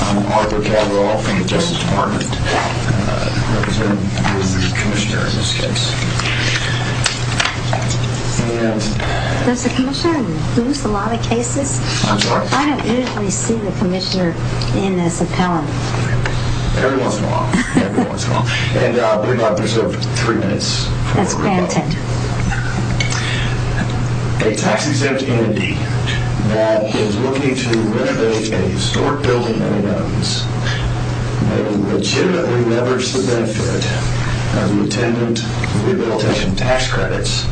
I'm Arthur Cabral from the Justice Department. I represent the Commissioner in this case. Does the Commissioner lose a lot of cases? I'm sorry? I don't usually see the Commissioner in this appellant. Everyone's gone. Everyone's gone. And we might reserve three minutes. That's granted. A tax-exempt entity that is looking to renovate a historic building that it owns may legitimately leverage the benefit of the attendant rehabilitation tax credits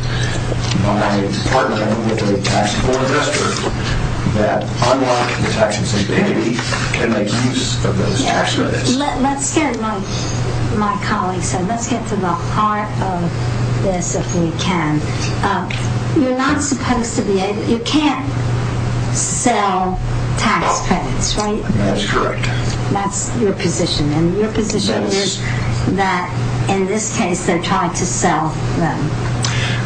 by partnering with a tax board investor that, unlike the tax-exempt entity, can make use of those tax credits. Let's get to the heart of this, if we can. You can't sell tax credits, right? That's correct. That's your position. And your position is that, in this case, they're trying to sell them.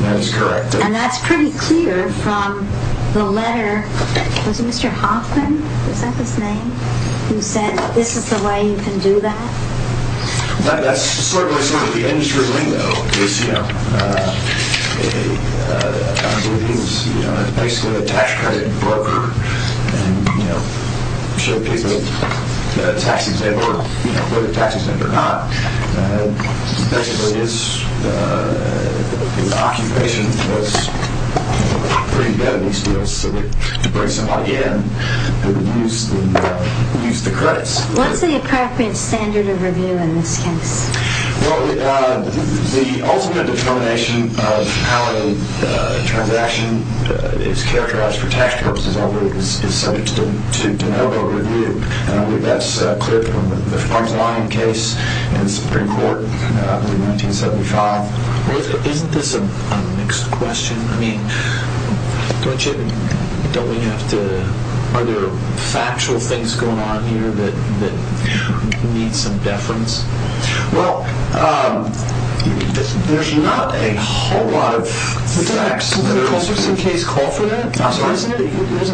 That's correct. I did hear from the letter, was it Mr. Hoffman? Is that his name? Who said, this is the way you can do that? That's sort of the industry lingo. It's basically a tax-credit broker. It's a tax-exempt, whether tax-exempt or not. Basically, his occupation was pretty good in these fields. To bring somebody in, they would use the credits. What's the appropriate standard of review in this case? The ultimate determination of how a transaction is characterized for tax purposes is subject to de novo review. I believe that's clear from the Farms and Lining case in the Supreme Court in 1975. Isn't this a mixed question? Are there factual things going on here that need some deference? There's not a whole lot of facts. Doesn't the Colbertson case call for that? It doesn't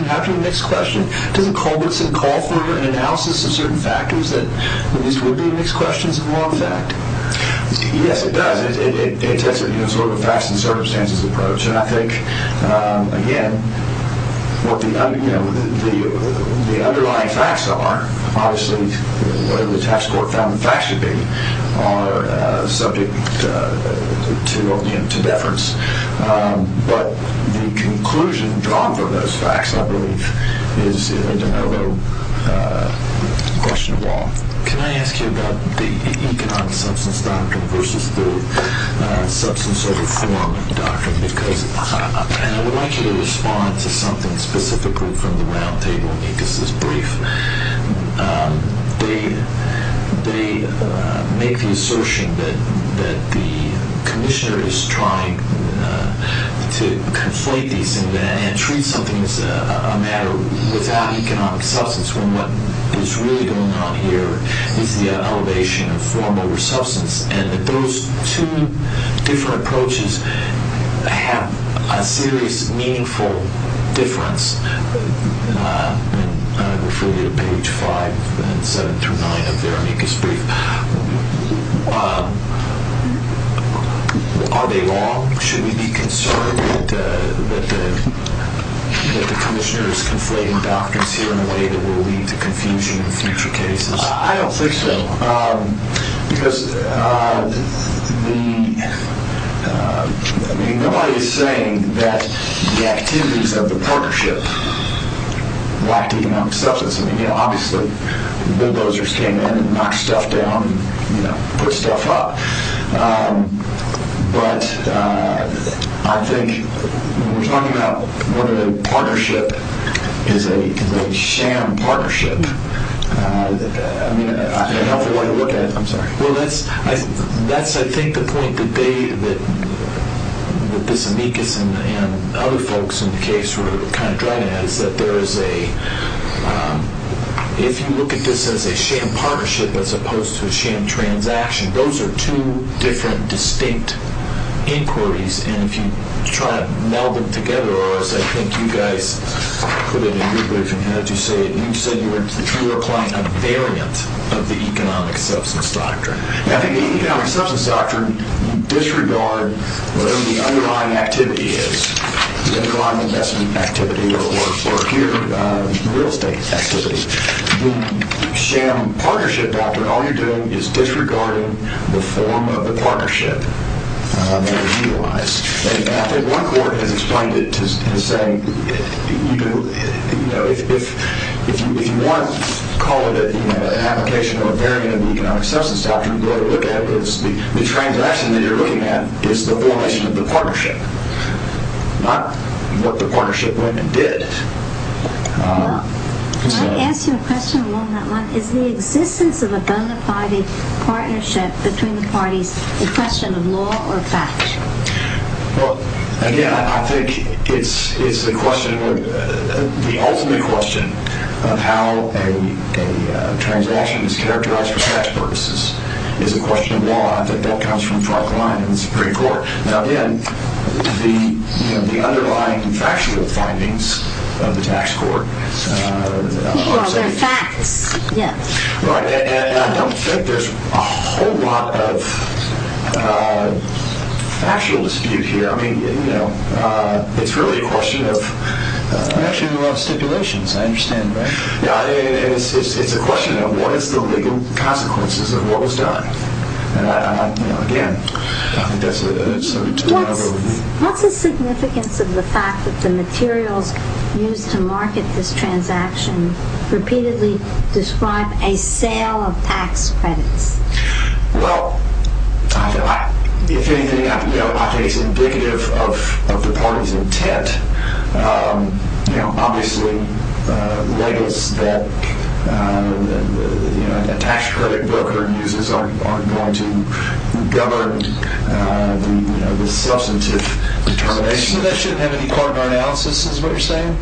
have to be a mixed question. Doesn't Colbertson call for an analysis of certain factors that these would be mixed questions in law and fact? Yes, it does. It takes a facts and circumstances approach. I think, again, what the underlying facts are, obviously, whatever the tax court found the facts should be, are subject to deference. But the conclusion drawn from those facts, I believe, is a de novo question of law. Can I ask you about the economic substance doctrine versus the substance over form doctrine? Because I would like you to respond to something specifically from the roundtable, because this is brief. They make the assertion that the commissioner is trying to conflate these and treat something as a matter without economic substance, when what is really going on here is the elevation of form over substance, and that those two different approaches have a serious, meaningful difference. I refer you to page 5 and 7 through 9 of their amicus brief. Are they wrong? Should we be concerned that the commissioner is conflating doctrines here in a way that will lead to confusion in future cases? I don't think so, because nobody is saying that the activities of the partnership lacked economic substance. Obviously, bulldozers came in and knocked stuff down and put stuff up. But I think we're talking about what a partnership is a sham partnership. I mean, a helpful way to look at it. I'm sorry. Well, that's, I think, the point that this amicus and other folks in the case were kind of driving at, is that if you look at this as a sham partnership as opposed to a sham transaction, those are two different, distinct inquiries, and if you try to meld them together, or as I think you guys put it in your brief and had you say it, you said you were applying a variant of the economic substance doctrine. I think the economic substance doctrine disregards whatever the underlying activity is, the underlying investment activity or real estate activity. The sham partnership doctrine, all you're doing is disregarding the form of the partnership that was utilized. And I think one court has explained it as saying, you know, if you want to call it an application or a variant of the economic substance doctrine, the transaction that you're looking at is the formation of the partnership, not what the partnership went and did. Well, can I ask you a question along that line? Is the existence of a gun-to-private partnership between the parties a question of law or fact? Well, again, I think it's the question, the ultimate question of how a transaction is characterized for such purposes is a question of law. I think that comes from Frank Lyon in the Supreme Court. Now, again, the underlying factual findings of the tax court are saying that. Well, they're facts. Yes. Right. And I don't think there's a whole lot of factual dispute here. I mean, you know, it's really a question of— It's a question of stipulations. I understand, right? Yeah. It's a question of what is the legal consequences of what was done. Again, I think that's a— What's the significance of the fact that the materials used to market this transaction repeatedly describe a sale of tax credits? Well, if anything, I think it's indicative of the party's intent. Obviously, labels that a tax credit broker uses are going to govern the substantive determination. So that shouldn't have any part in our analysis is what you're saying?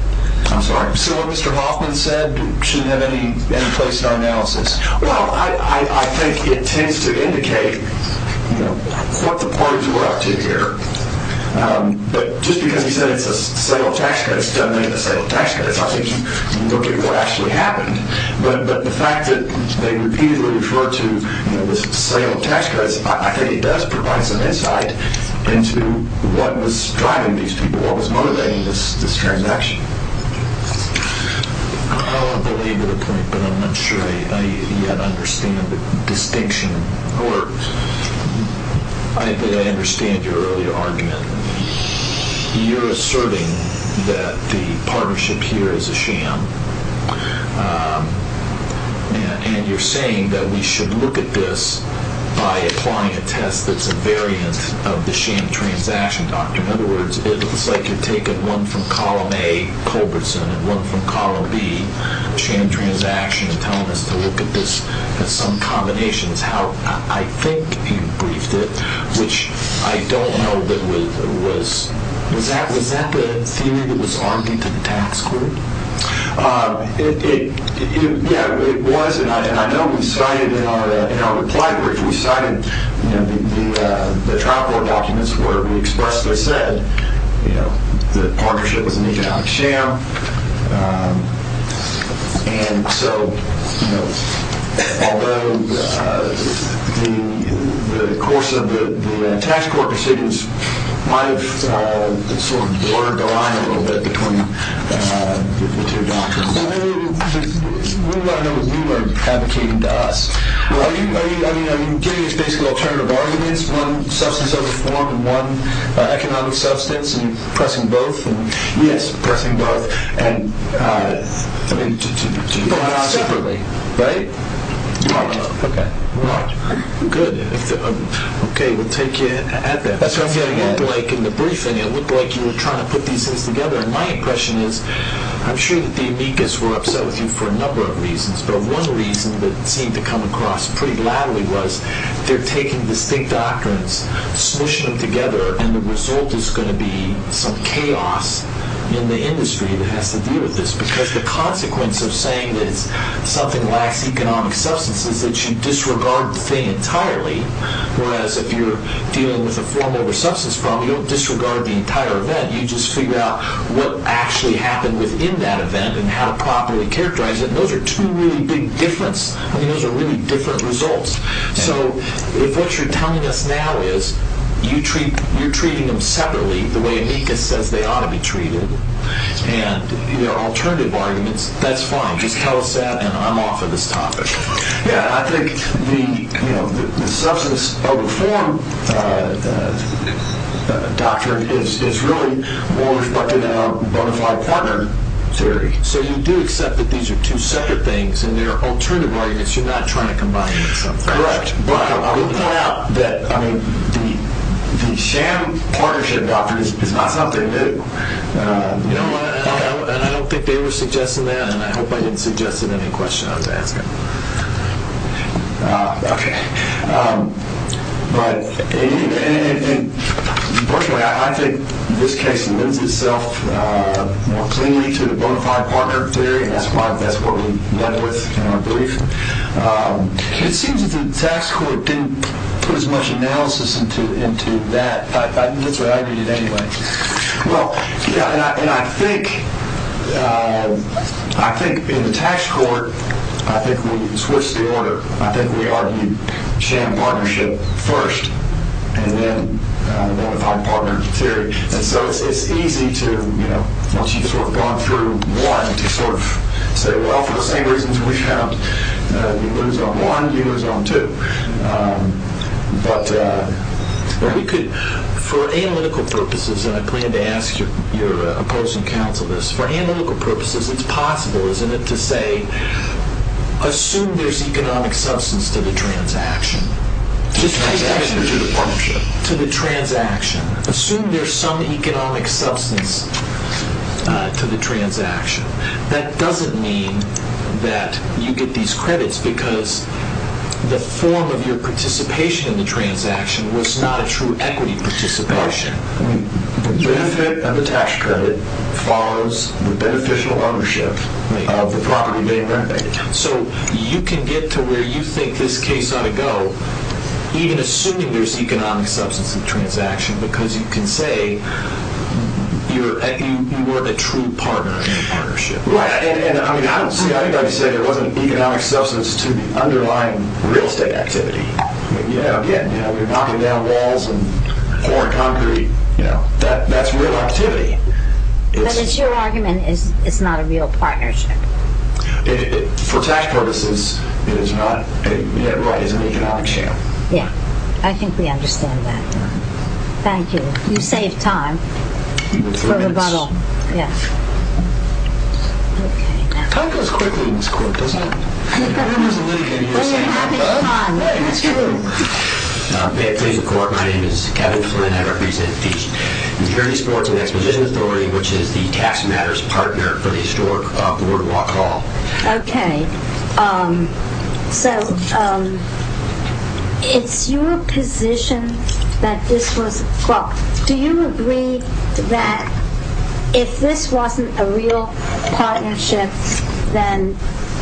I'm sorry? So what Mr. Hoffman said shouldn't have any place in our analysis? Well, I think it tends to indicate what the parties were up to here. But just because he said it's a sale of tax credits doesn't make it a sale of tax credits. I think you look at what actually happened. But the fact that they repeatedly referred to this sale of tax credits, I think it does provide some insight into what was driving these people, what was motivating this transaction. I don't believe the point, but I'm not sure I yet understand the distinction. I think I understand your earlier argument. You're asserting that the partnership here is a sham, and you're saying that we should look at this by applying a test that's a variant of the sham transaction document. In other words, it looks like you've taken one from Column A, Culbertson, and one from Column B, sham transaction, and telling us to look at this as some combinations. I think you briefed it, which I don't know. Was that the theory that was argued to the tax court? Yeah, it was, and I know we cited in our reply brief, we cited the trial board documents where we expressly said the partnership was an economic sham. And so, you know, although the course of the tax court decisions might have sort of blurred the line a little bit between the two doctrines. We want to know what you are advocating to us. Are you giving us basically alternative arguments, one substance of reform and one economic substance, and pressing both? Yes, pressing both. But not separately, right? Not at all. Okay. Good. Okay, we'll take you at that. That's what I'm getting at. It looked like in the briefing, it looked like you were trying to put these things together, and my impression is, I'm sure that the amicus were upset with you for a number of reasons, but one reason that seemed to come across pretty loudly was, they're taking distinct doctrines, smushing them together, and the result is going to be some chaos in the industry that has to deal with this. Because the consequence of saying that something lacks economic substance is that you disregard the thing entirely, whereas if you're dealing with a form over substance problem, you don't disregard the entire event. You just figure out what actually happened within that event and how to properly characterize it. And those are two really big differences. I mean, those are really different results. So if what you're telling us now is you're treating them separately, the way amicus says they ought to be treated, and there are alternative arguments, that's fine. Just tell us that, and I'm off of this topic. Yeah, I think the substance over form doctrine is really more respected than our bona fide partner theory. So you do accept that these are two separate things, and there are alternative arguments you're not trying to combine with something. Correct. But I will point out that the sham partnership doctrine is not something new. You know what? I don't think they were suggesting that, and I hope I didn't suggest it in any question I was asking. Okay. But fortunately, I think this case lends itself more cleanly to the bona fide partner theory, and I think that's what we went with in our brief. It seems that the tax court didn't put as much analysis into that. That's what I read it anyway. Well, yeah, and I think in the tax court, I think we switched the order. I think we argued sham partnership first, and then bona fide partner theory. And so it's easy to, you know, once you've sort of gone through one, to sort of say, well, for the same reasons we found, you lose on one, you lose on two. But we could, for analytical purposes, and I plan to ask your opposing counsel this, for analytical purposes, it's possible, isn't it, to say, assume there's economic substance to the transaction. To the transaction or to the partnership? To the transaction. Assume there's some economic substance to the transaction. That doesn't mean that you get these credits, because the form of your participation in the transaction was not a true equity participation. The benefit of the tax credit follows the beneficial ownership of the property being renovated. So you can get to where you think this case ought to go, even assuming there's economic substance to the transaction, because you can say you were the true partner in the partnership. Right. And, I mean, I don't see anybody saying there wasn't economic substance to the underlying real estate activity. You know, again, you're knocking down walls and pouring concrete. You know, that's real activity. But it's your argument it's not a real partnership. For tax purposes, it is not yet right as an economic share. Yeah. I think we understand that. Thank you. You saved time for rebuttal. Time goes quickly in this court, doesn't it? May it please the court, my name is Kevin Flynn. I represent the Security Sports and Expedition Authority, which is the tax matters partner for the historic BoardWalk Hall. Okay. So it's your position that this was, well, do you agree that if this wasn't a real partnership, then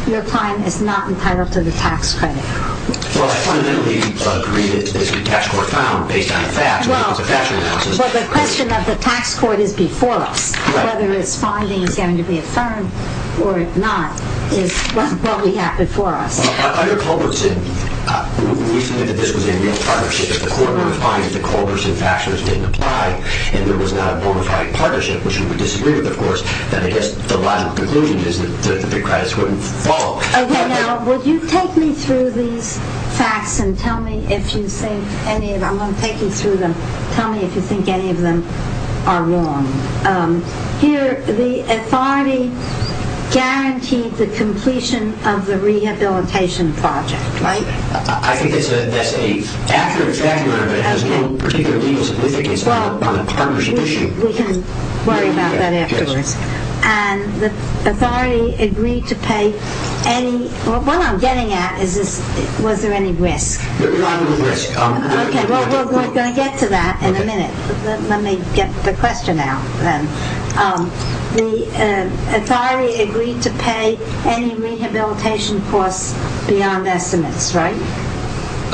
your client is not entitled to the tax credit? Well, I fundamentally agree that this could be tax court found based on the facts. Well, but the question of the tax court is before us. Whether its finding is going to be affirmed or not is what we have before us. Under Culbertson, we think that this was a real partnership. If the court were to find that the Culbertson factors didn't apply, and there was not a bona fide partnership, which we would disagree with, of course, then I guess the logical conclusion is that the big credits wouldn't fall. Okay, now, would you take me through these facts and tell me if you think any of them, I'm going to take you through them, tell me if you think any of them are wrong. Here, the authority guaranteed the completion of the rehabilitation project, right? I think it's a, that's a accurate factor, but it has no particular legal significance on a partnership issue. Well, we can worry about that afterwards. Okay. And the authority agreed to pay any, Well, what I'm getting at is this, was there any risk? There was not any risk. Okay, well, we're going to get to that in a minute. Let me get the question out then. The authority agreed to pay any rehabilitation costs beyond estimates, right?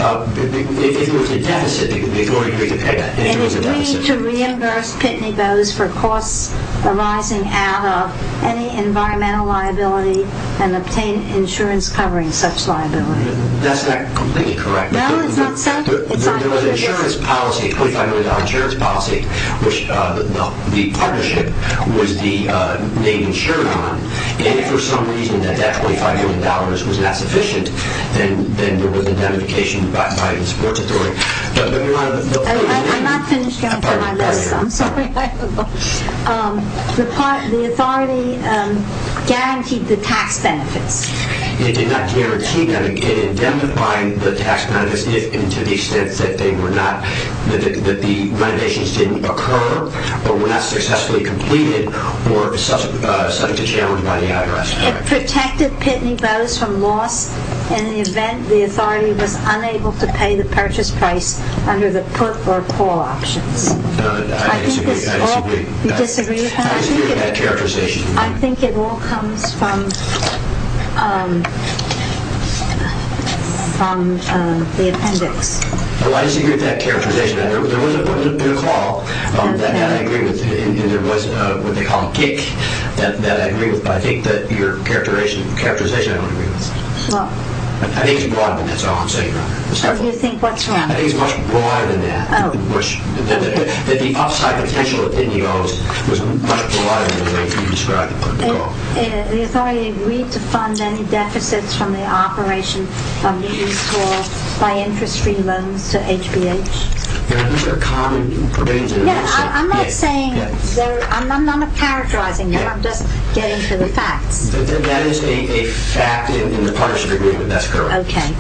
If there was a deficit, the authority agreed to pay that, if there was a deficit. It agreed to reimburse Pitney Bowes for costs arising out of any environmental liability and obtain insurance covering such liability. That's not completely correct. No, it's not? There was an insurance policy, a $25 million insurance policy, which the partnership was the main insurer on, and if for some reason that $25 million was not sufficient, then there was indemnification by the support authority. I'm not finished going through my list. I'm sorry. The authority guaranteed the tax benefits. It did not guarantee them. It indemnified the tax benefits to the extent that they were not, that the renovations didn't occur or were not successfully completed or subject to challenge by the IRS. It protected Pitney Bowes from loss in the event the authority was unable to pay the purchase price under the put or call options. I disagree. You disagree? I disagree with that characterization. I think it all comes from the appendix. I disagree with that characterization. There was a put or call that I agree with, and there was what they call a kick that I agree with, but I think that your characterization I don't agree with. I think it's broad, and that's all I'm saying. You think what's wrong? I think it's much broader than that. That the upside potential of Pitney Bowes was much broader than the way you described the put or call. The authority agreed to fund any deficits from the operation of the East Hall by interest-free loans to HBH. I'm not saying, I'm not characterizing them. I'm just getting to the facts. That is a fact in the partnership agreement. That's correct. Okay.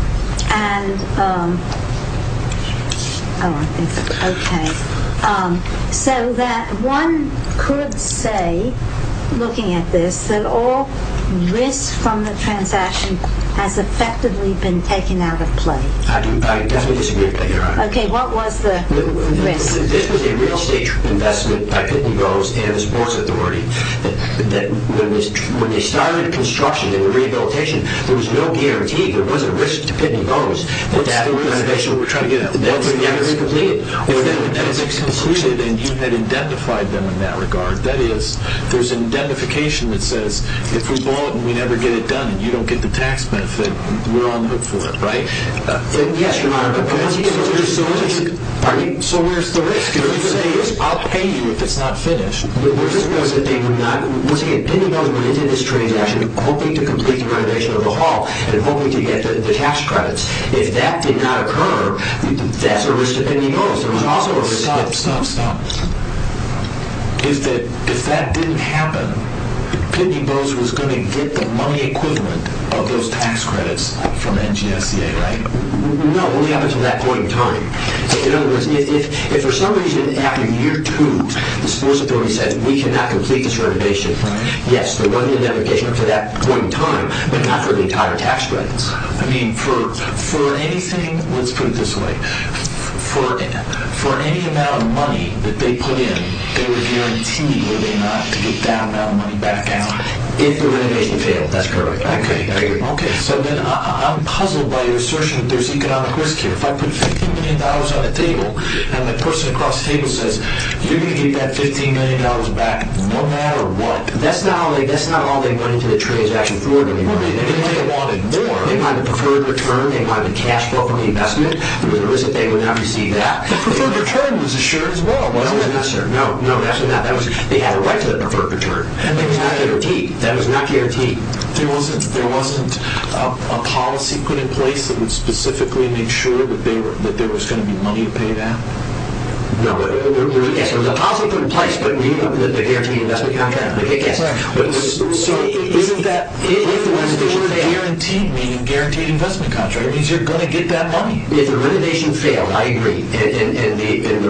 So that one could say, looking at this, that all risk from the transaction has effectively been taken out of play. I definitely disagree with that characterization. Okay. What was the risk? This was a real estate investment by Pitney Bowes and the sports authority. When they started construction and the rehabilitation, there was no guarantee. There wasn't a risk to Pitney Bowes. What's the realization we're trying to get at? Was it never completed? If the deficits concluded and you had identified them in that regard, that is, there's an indemnification that says if we bought and we never get it done and you don't get the tax benefit, we're on the hook for it, right? Yes, Your Honor. So where's the risk? The risk is I'll pay you if it's not finished. We're just going to say, Pitney Bowes went into this transaction hoping to complete the renovation of the hall and hoping to get the tax credits. If that did not occur, that's a risk to Pitney Bowes. Stop, stop, stop. If that didn't happen, Pitney Bowes was going to get the money equivalent of those tax credits from NGSCA, right? No, only up until that point in time. In other words, if for some reason after year two, the sports authority said we cannot complete this renovation, yes, there was an indemnification up to that point in time, but not for the entire tax credits. I mean, for anything, let's put it this way, for any amount of money that they put in, they were guaranteed were they not to get that amount of money back out if the renovation failed. That's correct. Okay, so then I'm puzzled by your assertion that there's economic risk here. If I put $15 million on the table and the person across the table says, you're going to get that $15 million back no matter what, that's not all they put into the transaction forward anymore. They wanted more. They wanted preferred return. They wanted cash flow from the investment. The reason they would not receive that. The preferred return was assured as well. No, no, that was not. They had a right to the preferred return. That was not guaranteed. That was not guaranteed. There wasn't a policy put in place that would specifically ensure that there was going to be money to pay that? No. Yes, there was a policy put in place, the guaranteed investment contract. Correct. So isn't that, if you were guaranteed, meaning guaranteed investment contract, it means you're going to get that money. If the renovation failed, I agree, and the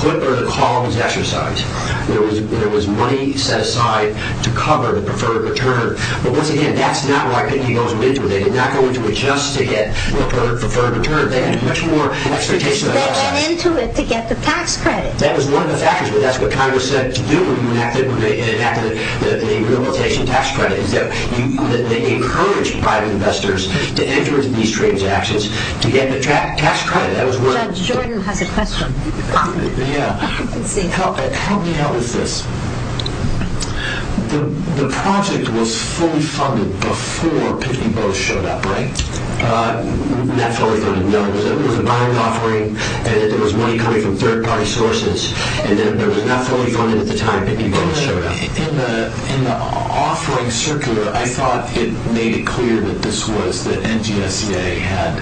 put or the call was exercised, there was money set aside to cover the preferred return. But once again, that's not what I think he goes into. They did not go into it just to get preferred return. They had much more expectations. They went into it to get the tax credit. That was one of the factors, but that's what Congress said to do when they enacted the rehabilitation tax credit, is that they encouraged private investors to enter into these transactions to get the tax credit. Judge Jordan has a question. Yeah. Let's see. Help me out with this. The project was fully funded before Pitney Bowes showed up, right? Not fully funded, no. It was a bond offering, and then there was money coming from third-party sources, and then it was not fully funded at the time Pitney Bowes showed up. In the offering circular, I thought it made it clear that this was the NGSEA had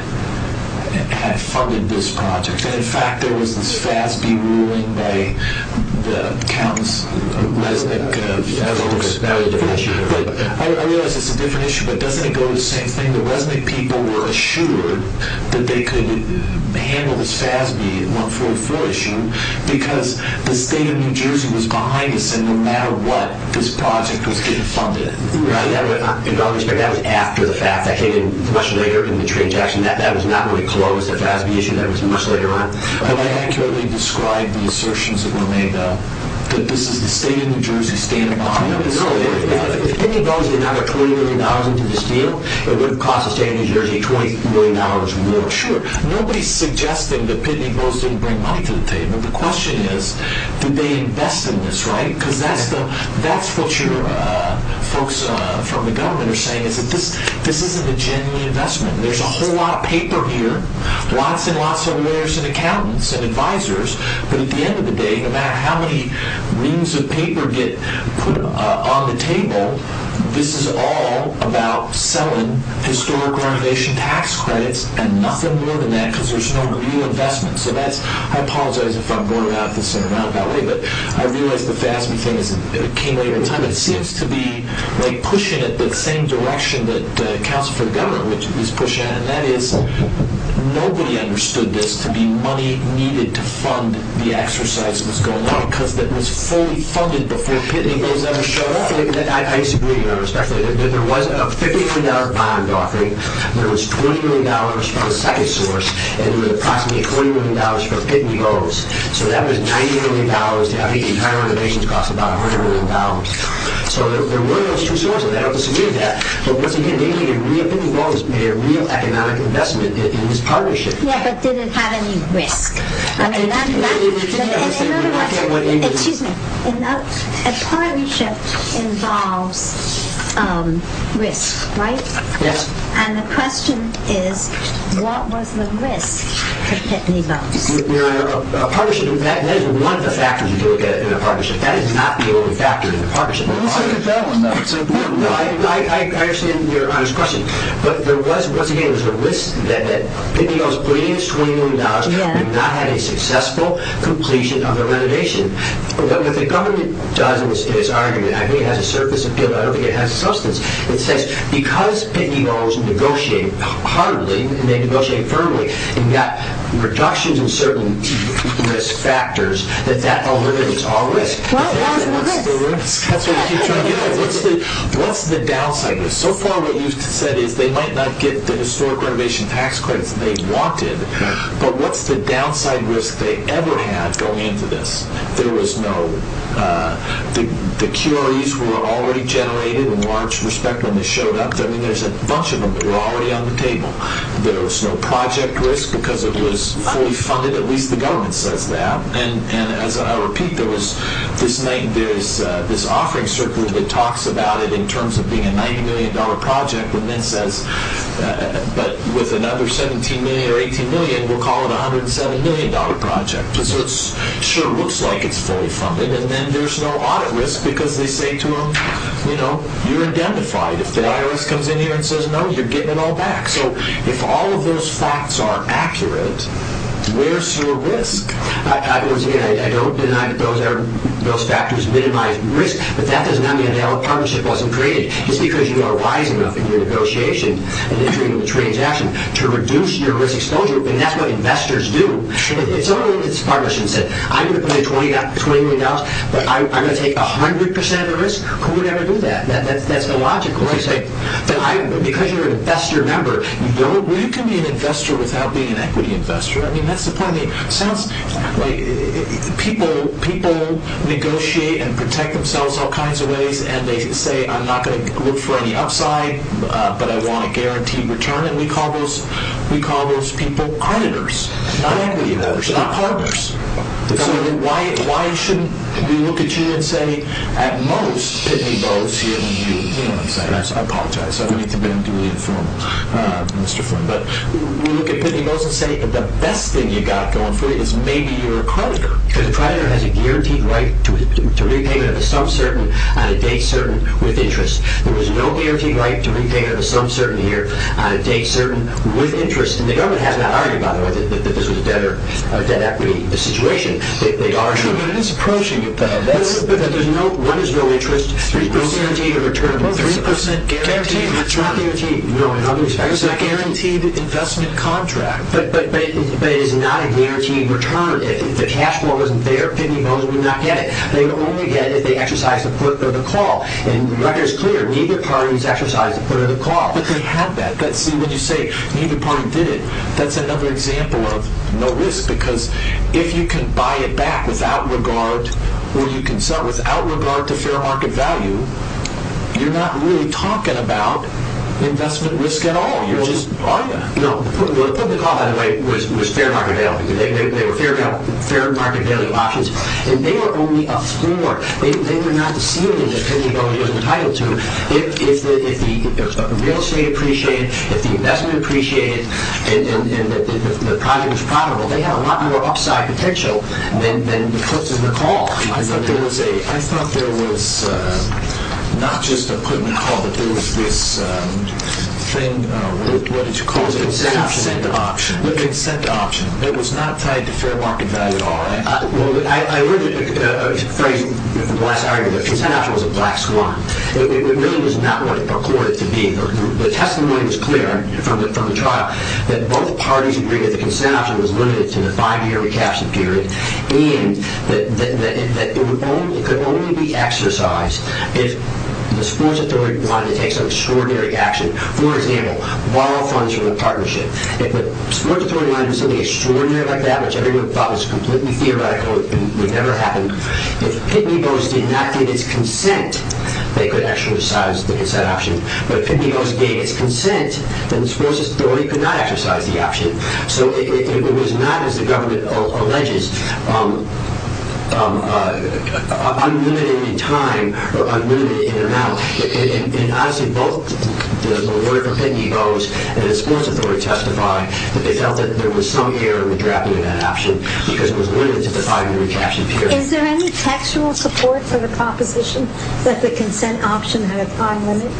funded this project. And, in fact, there was this FASB ruling by the accountants, Lesnick folks. I realize it's a different issue, but doesn't it go to the same thing? The Lesnick people were assured that they could handle this FASB 144 issue because the state of New Jersey was behind this, and no matter what, this project was getting funded. Right. That was after the fact. That came in much later in the transaction. That was not really close, that FASB issue. That was much later on. But they accurately described the assertions that were made, that this is the state of New Jersey standing behind this. If Pitney Bowes did not have $20 million into this deal, it would have cost the state of New Jersey $20 million more. Sure. Nobody's suggesting that Pitney Bowes didn't bring money to the table. The question is, did they invest in this, right? Because that's what your folks from the government are saying, is that this isn't a genuine investment. There's a whole lot of paper here, lots and lots of lawyers and accountants and advisors, but at the end of the day, no matter how many reams of paper get put on the table, this is all about selling historic renovation tax credits and nothing more than that because there's no real investment. I apologize if I'm going about this in a roundabout way, but I realize the FASB thing came later in time. It seems to be pushing it the same direction that Counsel for the Government was pushing, and that is nobody understood this to be money needed to fund the exercise that was going on because it was fully funded before Pitney Bowes ever showed up. There was a $50 million bond offering. There was $20 million from a second source, and there was approximately $20 million for Pitney Bowes. So that was $90 million to have the entire renovations cost about $100 million. So there were those two sources. I don't disagree with that. But once again, they made a real economic investment in this partnership. Yeah, but did it have any risk? Excuse me. A partnership involves risk, right? Yes. And the question is, what was the risk to Pitney Bowes? A partnership, that is one of the factors if you look at it in a partnership. That is not the only factor in a partnership. It's an important one. I understand your honest question. But there was, once again, there was a risk that Pitney Bowes putting in $20 million and not having a successful completion of the renovation. What the government does in its argument, I think it has a surface appeal, but I don't think it has substance. It says because Pitney Bowes negotiated heartily, and they negotiated firmly, and got reductions in certain risk factors, that that algorithm is all risk. What was the risk? That's what we keep trying to get at. What's the downside? So far what you've said is they might not get the historic renovation tax credits they wanted, but what's the downside risk they ever had going into this? There was no, the QREs were already generated in large respect when they showed up. I mean, there's a bunch of them that were already on the table. There was no project risk because it was fully funded. At least the government says that. And as I'll repeat, there was this night, there's this offering circuit that talks about it in terms of being a $90 million project, and then says, but with another $17 million or $18 million, we'll call it a $107 million project. So it sure looks like it's fully funded, and then there's no audit risk because they say to them, you know, you're identified. If the IRS comes in here and says no, you're getting it all back. So if all of those facts are accurate, where's your risk? Again, I don't deny that those factors minimize risk, but that does not mean a partnership wasn't created. Just because you are wise enough in your negotiation and entry into the transaction to reduce your risk exposure, and that's what investors do. If someone in this partnership said, I'm going to put in $20 million, but I'm going to take 100% of the risk, who would ever do that? That's illogical. Because you're an investor member, you can be an investor without being an equity investor. I mean, that's the point. It sounds like people negotiate and protect themselves all kinds of ways, and they say, I'm not going to look for any upside, but I want a guaranteed return, and we call those people auditors, not equity auditors, not partners. So why shouldn't we look at you and say, at most, Pitney Bowes here, when you, you know what I'm saying, I apologize. I don't mean to be too informal, Mr. Flynn. But we look at Pitney Bowes and say, the best thing you've got going for you is maybe you're a creditor. Because a creditor has a guaranteed right to repayment of a sum certain on a date certain with interest. There is no guaranteed right to repayment of a sum certain here on a date certain with interest. And the government has not argued, by the way, that this was a debt equity situation. Sure, but it is approaching it, though. But there's no, what is no interest? 3% guaranteed return. 3% guaranteed, that's not guaranteed. It's a guaranteed investment contract. But it is not a guaranteed return. If the cash flow wasn't there, Pitney Bowes would not get it. They would only get it if they exercised a put or the call. And the record is clear. Neither party has exercised a put or the call. But they have that. See, when you say neither party did it, that's another example of no risk. Because if you can buy it back without regard to fair market value, you're not really talking about investment risk at all. You're just buying it. No, the put and the call, by the way, was fair market value. They were fair market value options. And they were only a floor. They were not a ceiling that Pitney Bowes was entitled to. If the real estate appreciated, if the investment appreciated, and the project was profitable, they had a lot more upside potential than the puts and the calls. I thought there was not just a put and a call, but there was this thing, what did you call it? Consent option. Consent option. It was not tied to fair market value at all. I heard a phrase in the last argument. Consent option was a black swan. It really was not what it purported to be. The testimony was clear from the trial that both parties agreed that the consent option was limited to the five-year recaption period and that it could only be exercised if the sports authority wanted to take some extraordinary action. For example, borrow funds from a partnership. If the sports authority wanted to do something extraordinary like that, which everyone thought was completely theoretical and would never happen, if Pitney Bowes did not get his consent, they could exercise the consent option. But if Pitney Bowes gave his consent, then the sports authority could not exercise the option. So it was not, as the government alleges, unlimited in time or unlimited in amount. And, obviously, both the lawyer for Pitney Bowes and the sports authority testify that they felt that there was some error in the drafting of that option because it was limited to the five-year recaption period. Is there any textual support for the proposition that the consent option had a time limit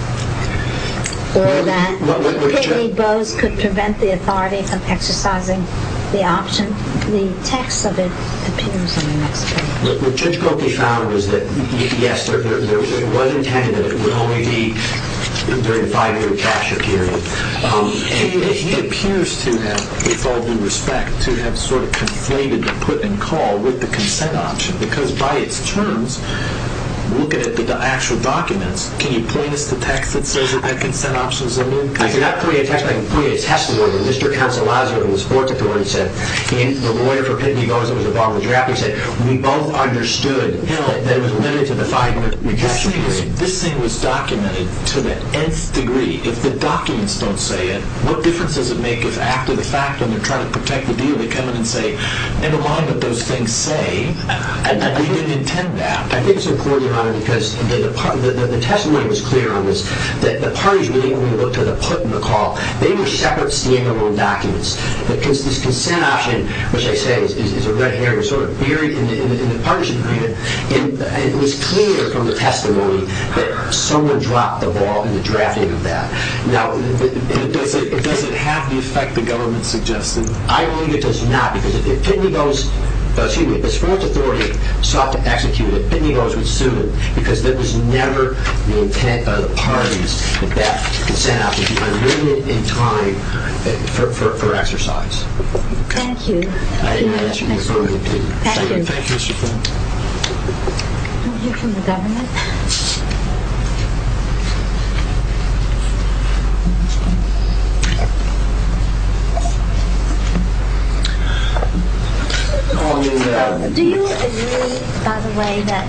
or that Pitney Bowes could prevent the authority from exercising the option? The text of it appears on the next page. What Judge Cokie found was that, yes, it was intended that it would only be during the five-year recaption period. And he appears to have, with all due respect, to have sort of conflated the put and call with the consent option because by its terms, looking at the actual documents, can you point us to text that says that that consent option is immune? I cannot point you to a text, but I can point you to a testimony that Mr. Counsel Lizer of the sports authority said. The lawyer for Pitney Bowes that was involved in the drafting said, we both understood that it was limited to the five-year recaption period. This thing was documented to the nth degree. If the documents don't say it, what difference does it make if after the fact, when they're trying to protect the deal, they come in and say, never mind what those things say, that they didn't intend that. I think it's important, Your Honor, because the testimony was clear on this, that the partnership meeting, when we looked at the put and the call, they were separate, standalone documents. This consent option, which I say is a red herring, was sort of buried in the partnership meeting, and it was clear from the testimony that someone dropped the ball in the drafting of that. Now, does it have the effect the government suggested? I believe it does not because if Pitney Bowes, excuse me, the sports authority sought to execute it, Pitney Bowes would sue it because there was never the intent of the parties that that consent option would be unlimited in time for exercise. Thank you. Thank you. Thank you, Mr. Farr. We'll hear from the government. Do you agree, by the way, that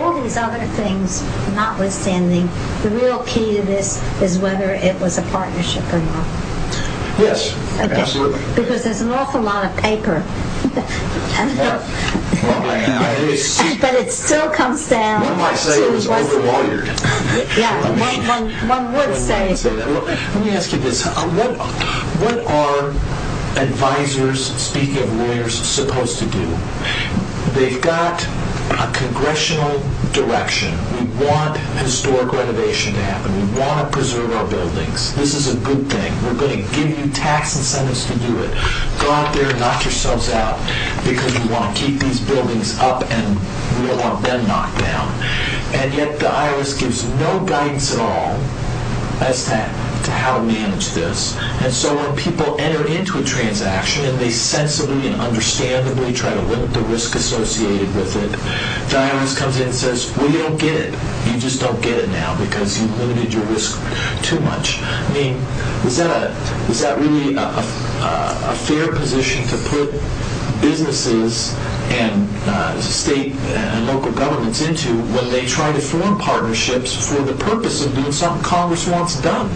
all these other things, notwithstanding, the real key to this is whether it was a partnership or not? Yes, absolutely. Because there's an awful lot of paper. But it still comes down to what one would say. Let me ask you this. What are advisors, speaking of lawyers, supposed to do? They've got a congressional direction. We want historic renovation to happen. We want to preserve our buildings. This is a good thing. We're going to give you tax incentives to do it. Go out there and knock yourselves out because we want to keep these buildings up and we don't want them knocked down. And yet the IRS gives no guidance at all as to how to manage this. And so when people enter into a transaction and they sensibly and understandably try to limit the risk associated with it, the IRS comes in and says, well, you don't get it. You just don't get it now because you've limited your risk too much. I mean, is that really a fair position to put businesses and state and local governments into when they try to form partnerships for the purpose of doing something Congress wants done?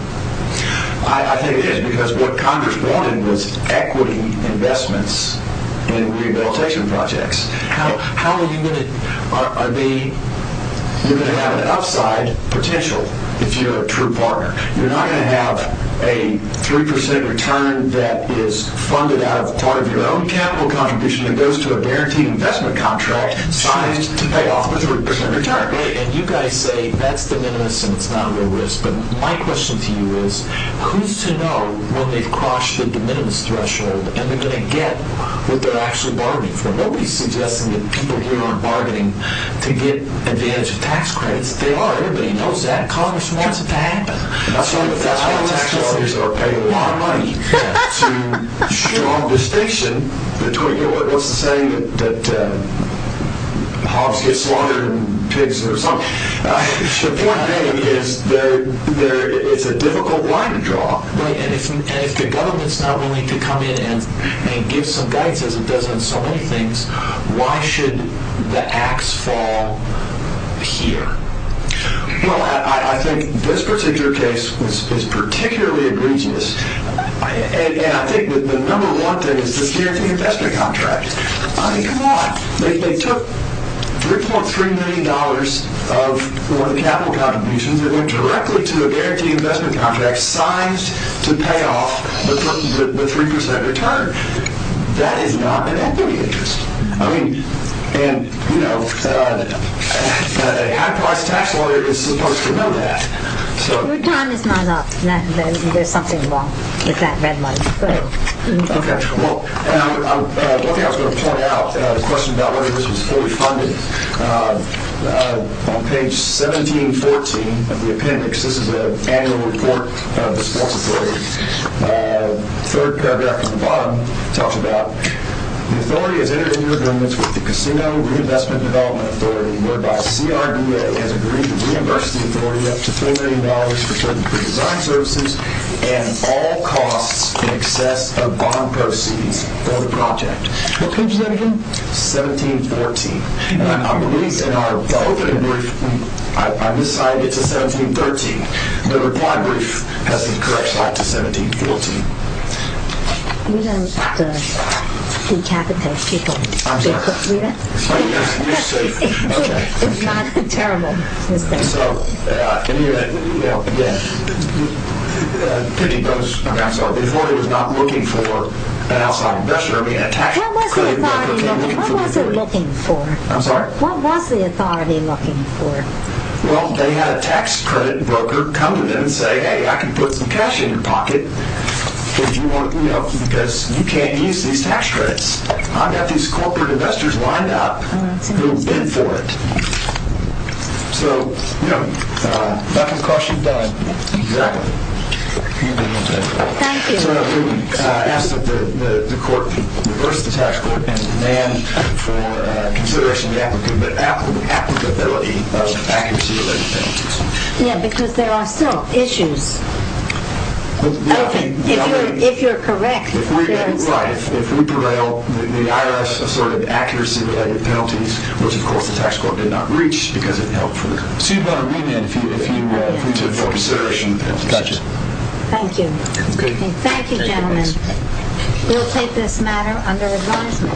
I think it is because what Congress wanted was equity investments in rehabilitation projects. How are you going to have an upside potential if you're a true partner? You're not going to have a 3% return that is funded out of part of your own capital contribution that goes to a guaranteed investment contract signed to pay off with a 3% return. And you guys say that's de minimis and it's not a real risk, but my question to you is who's to know when they've crossed the de minimis threshold and they're going to get what they're actually bargaining for? Nobody's suggesting that people here aren't bargaining to get advantage of tax credits. They are. Everybody knows that. Congress wants it to happen. That's why tax collectors are paying a lot of money to draw a distinction between what's to say that hogs get slaughtered and pigs or something. The point being is it's a difficult line to draw. And if the government's not willing to come in and give some guidance, as it does on so many things, why should the ax fall here? Well, I think this particular case is particularly egregious. And I think the number one thing is this guaranteed investment contract. I mean, come on. They took $3.3 million of capital contributions that went directly to a guaranteed investment contract signed to pay off the 3% return. That is not an equity interest. And, you know, a high-priced tax lawyer is supposed to know that. Your time is not up. There's something wrong with that red line. Okay. Well, one thing I was going to point out, a question about whether this was fully funded. On page 1714 of the appendix, this is an annual report of the sports authority, the third paragraph at the bottom talks about the authority has entered into agreements with the Casino Reinvestment Development Authority, whereby CRDA has agreed to reimburse the authority up to $3 million for certain pre-designed services and all costs in excess of bond proceeds for the project. What page is that again? 1714. I believe in our opening brief, I miscited to 1713. The reply brief has been corrected back to 1714. We don't decapitate people. I'm sorry. Read it. Okay. It's not a terrible mistake. So, you know, again, I'm sorry. The authority was not looking for an outside investor. What was the authority looking for? I'm sorry? What was the authority looking for? Well, they had a tax credit broker come in and say, hey, I can put some cash in your pocket because you can't use these tax credits. I've got these corporate investors lined up who will bid for it. So, you know. Back and cross you've done. Exactly. Thank you. I ask that the court reverse the tax court and demand for consideration of applicability of accuracy-related penalties. Yeah, because there are still issues. If you're correct, there is. Right. If we prevail, the IRS assorted accuracy-related penalties, which, of course, the tax court did not reach because it helped for the court. So you'd better remand if we took that into consideration. Got you. Thank you. That's good. Thank you, gentlemen. We'll take this matter under advisement.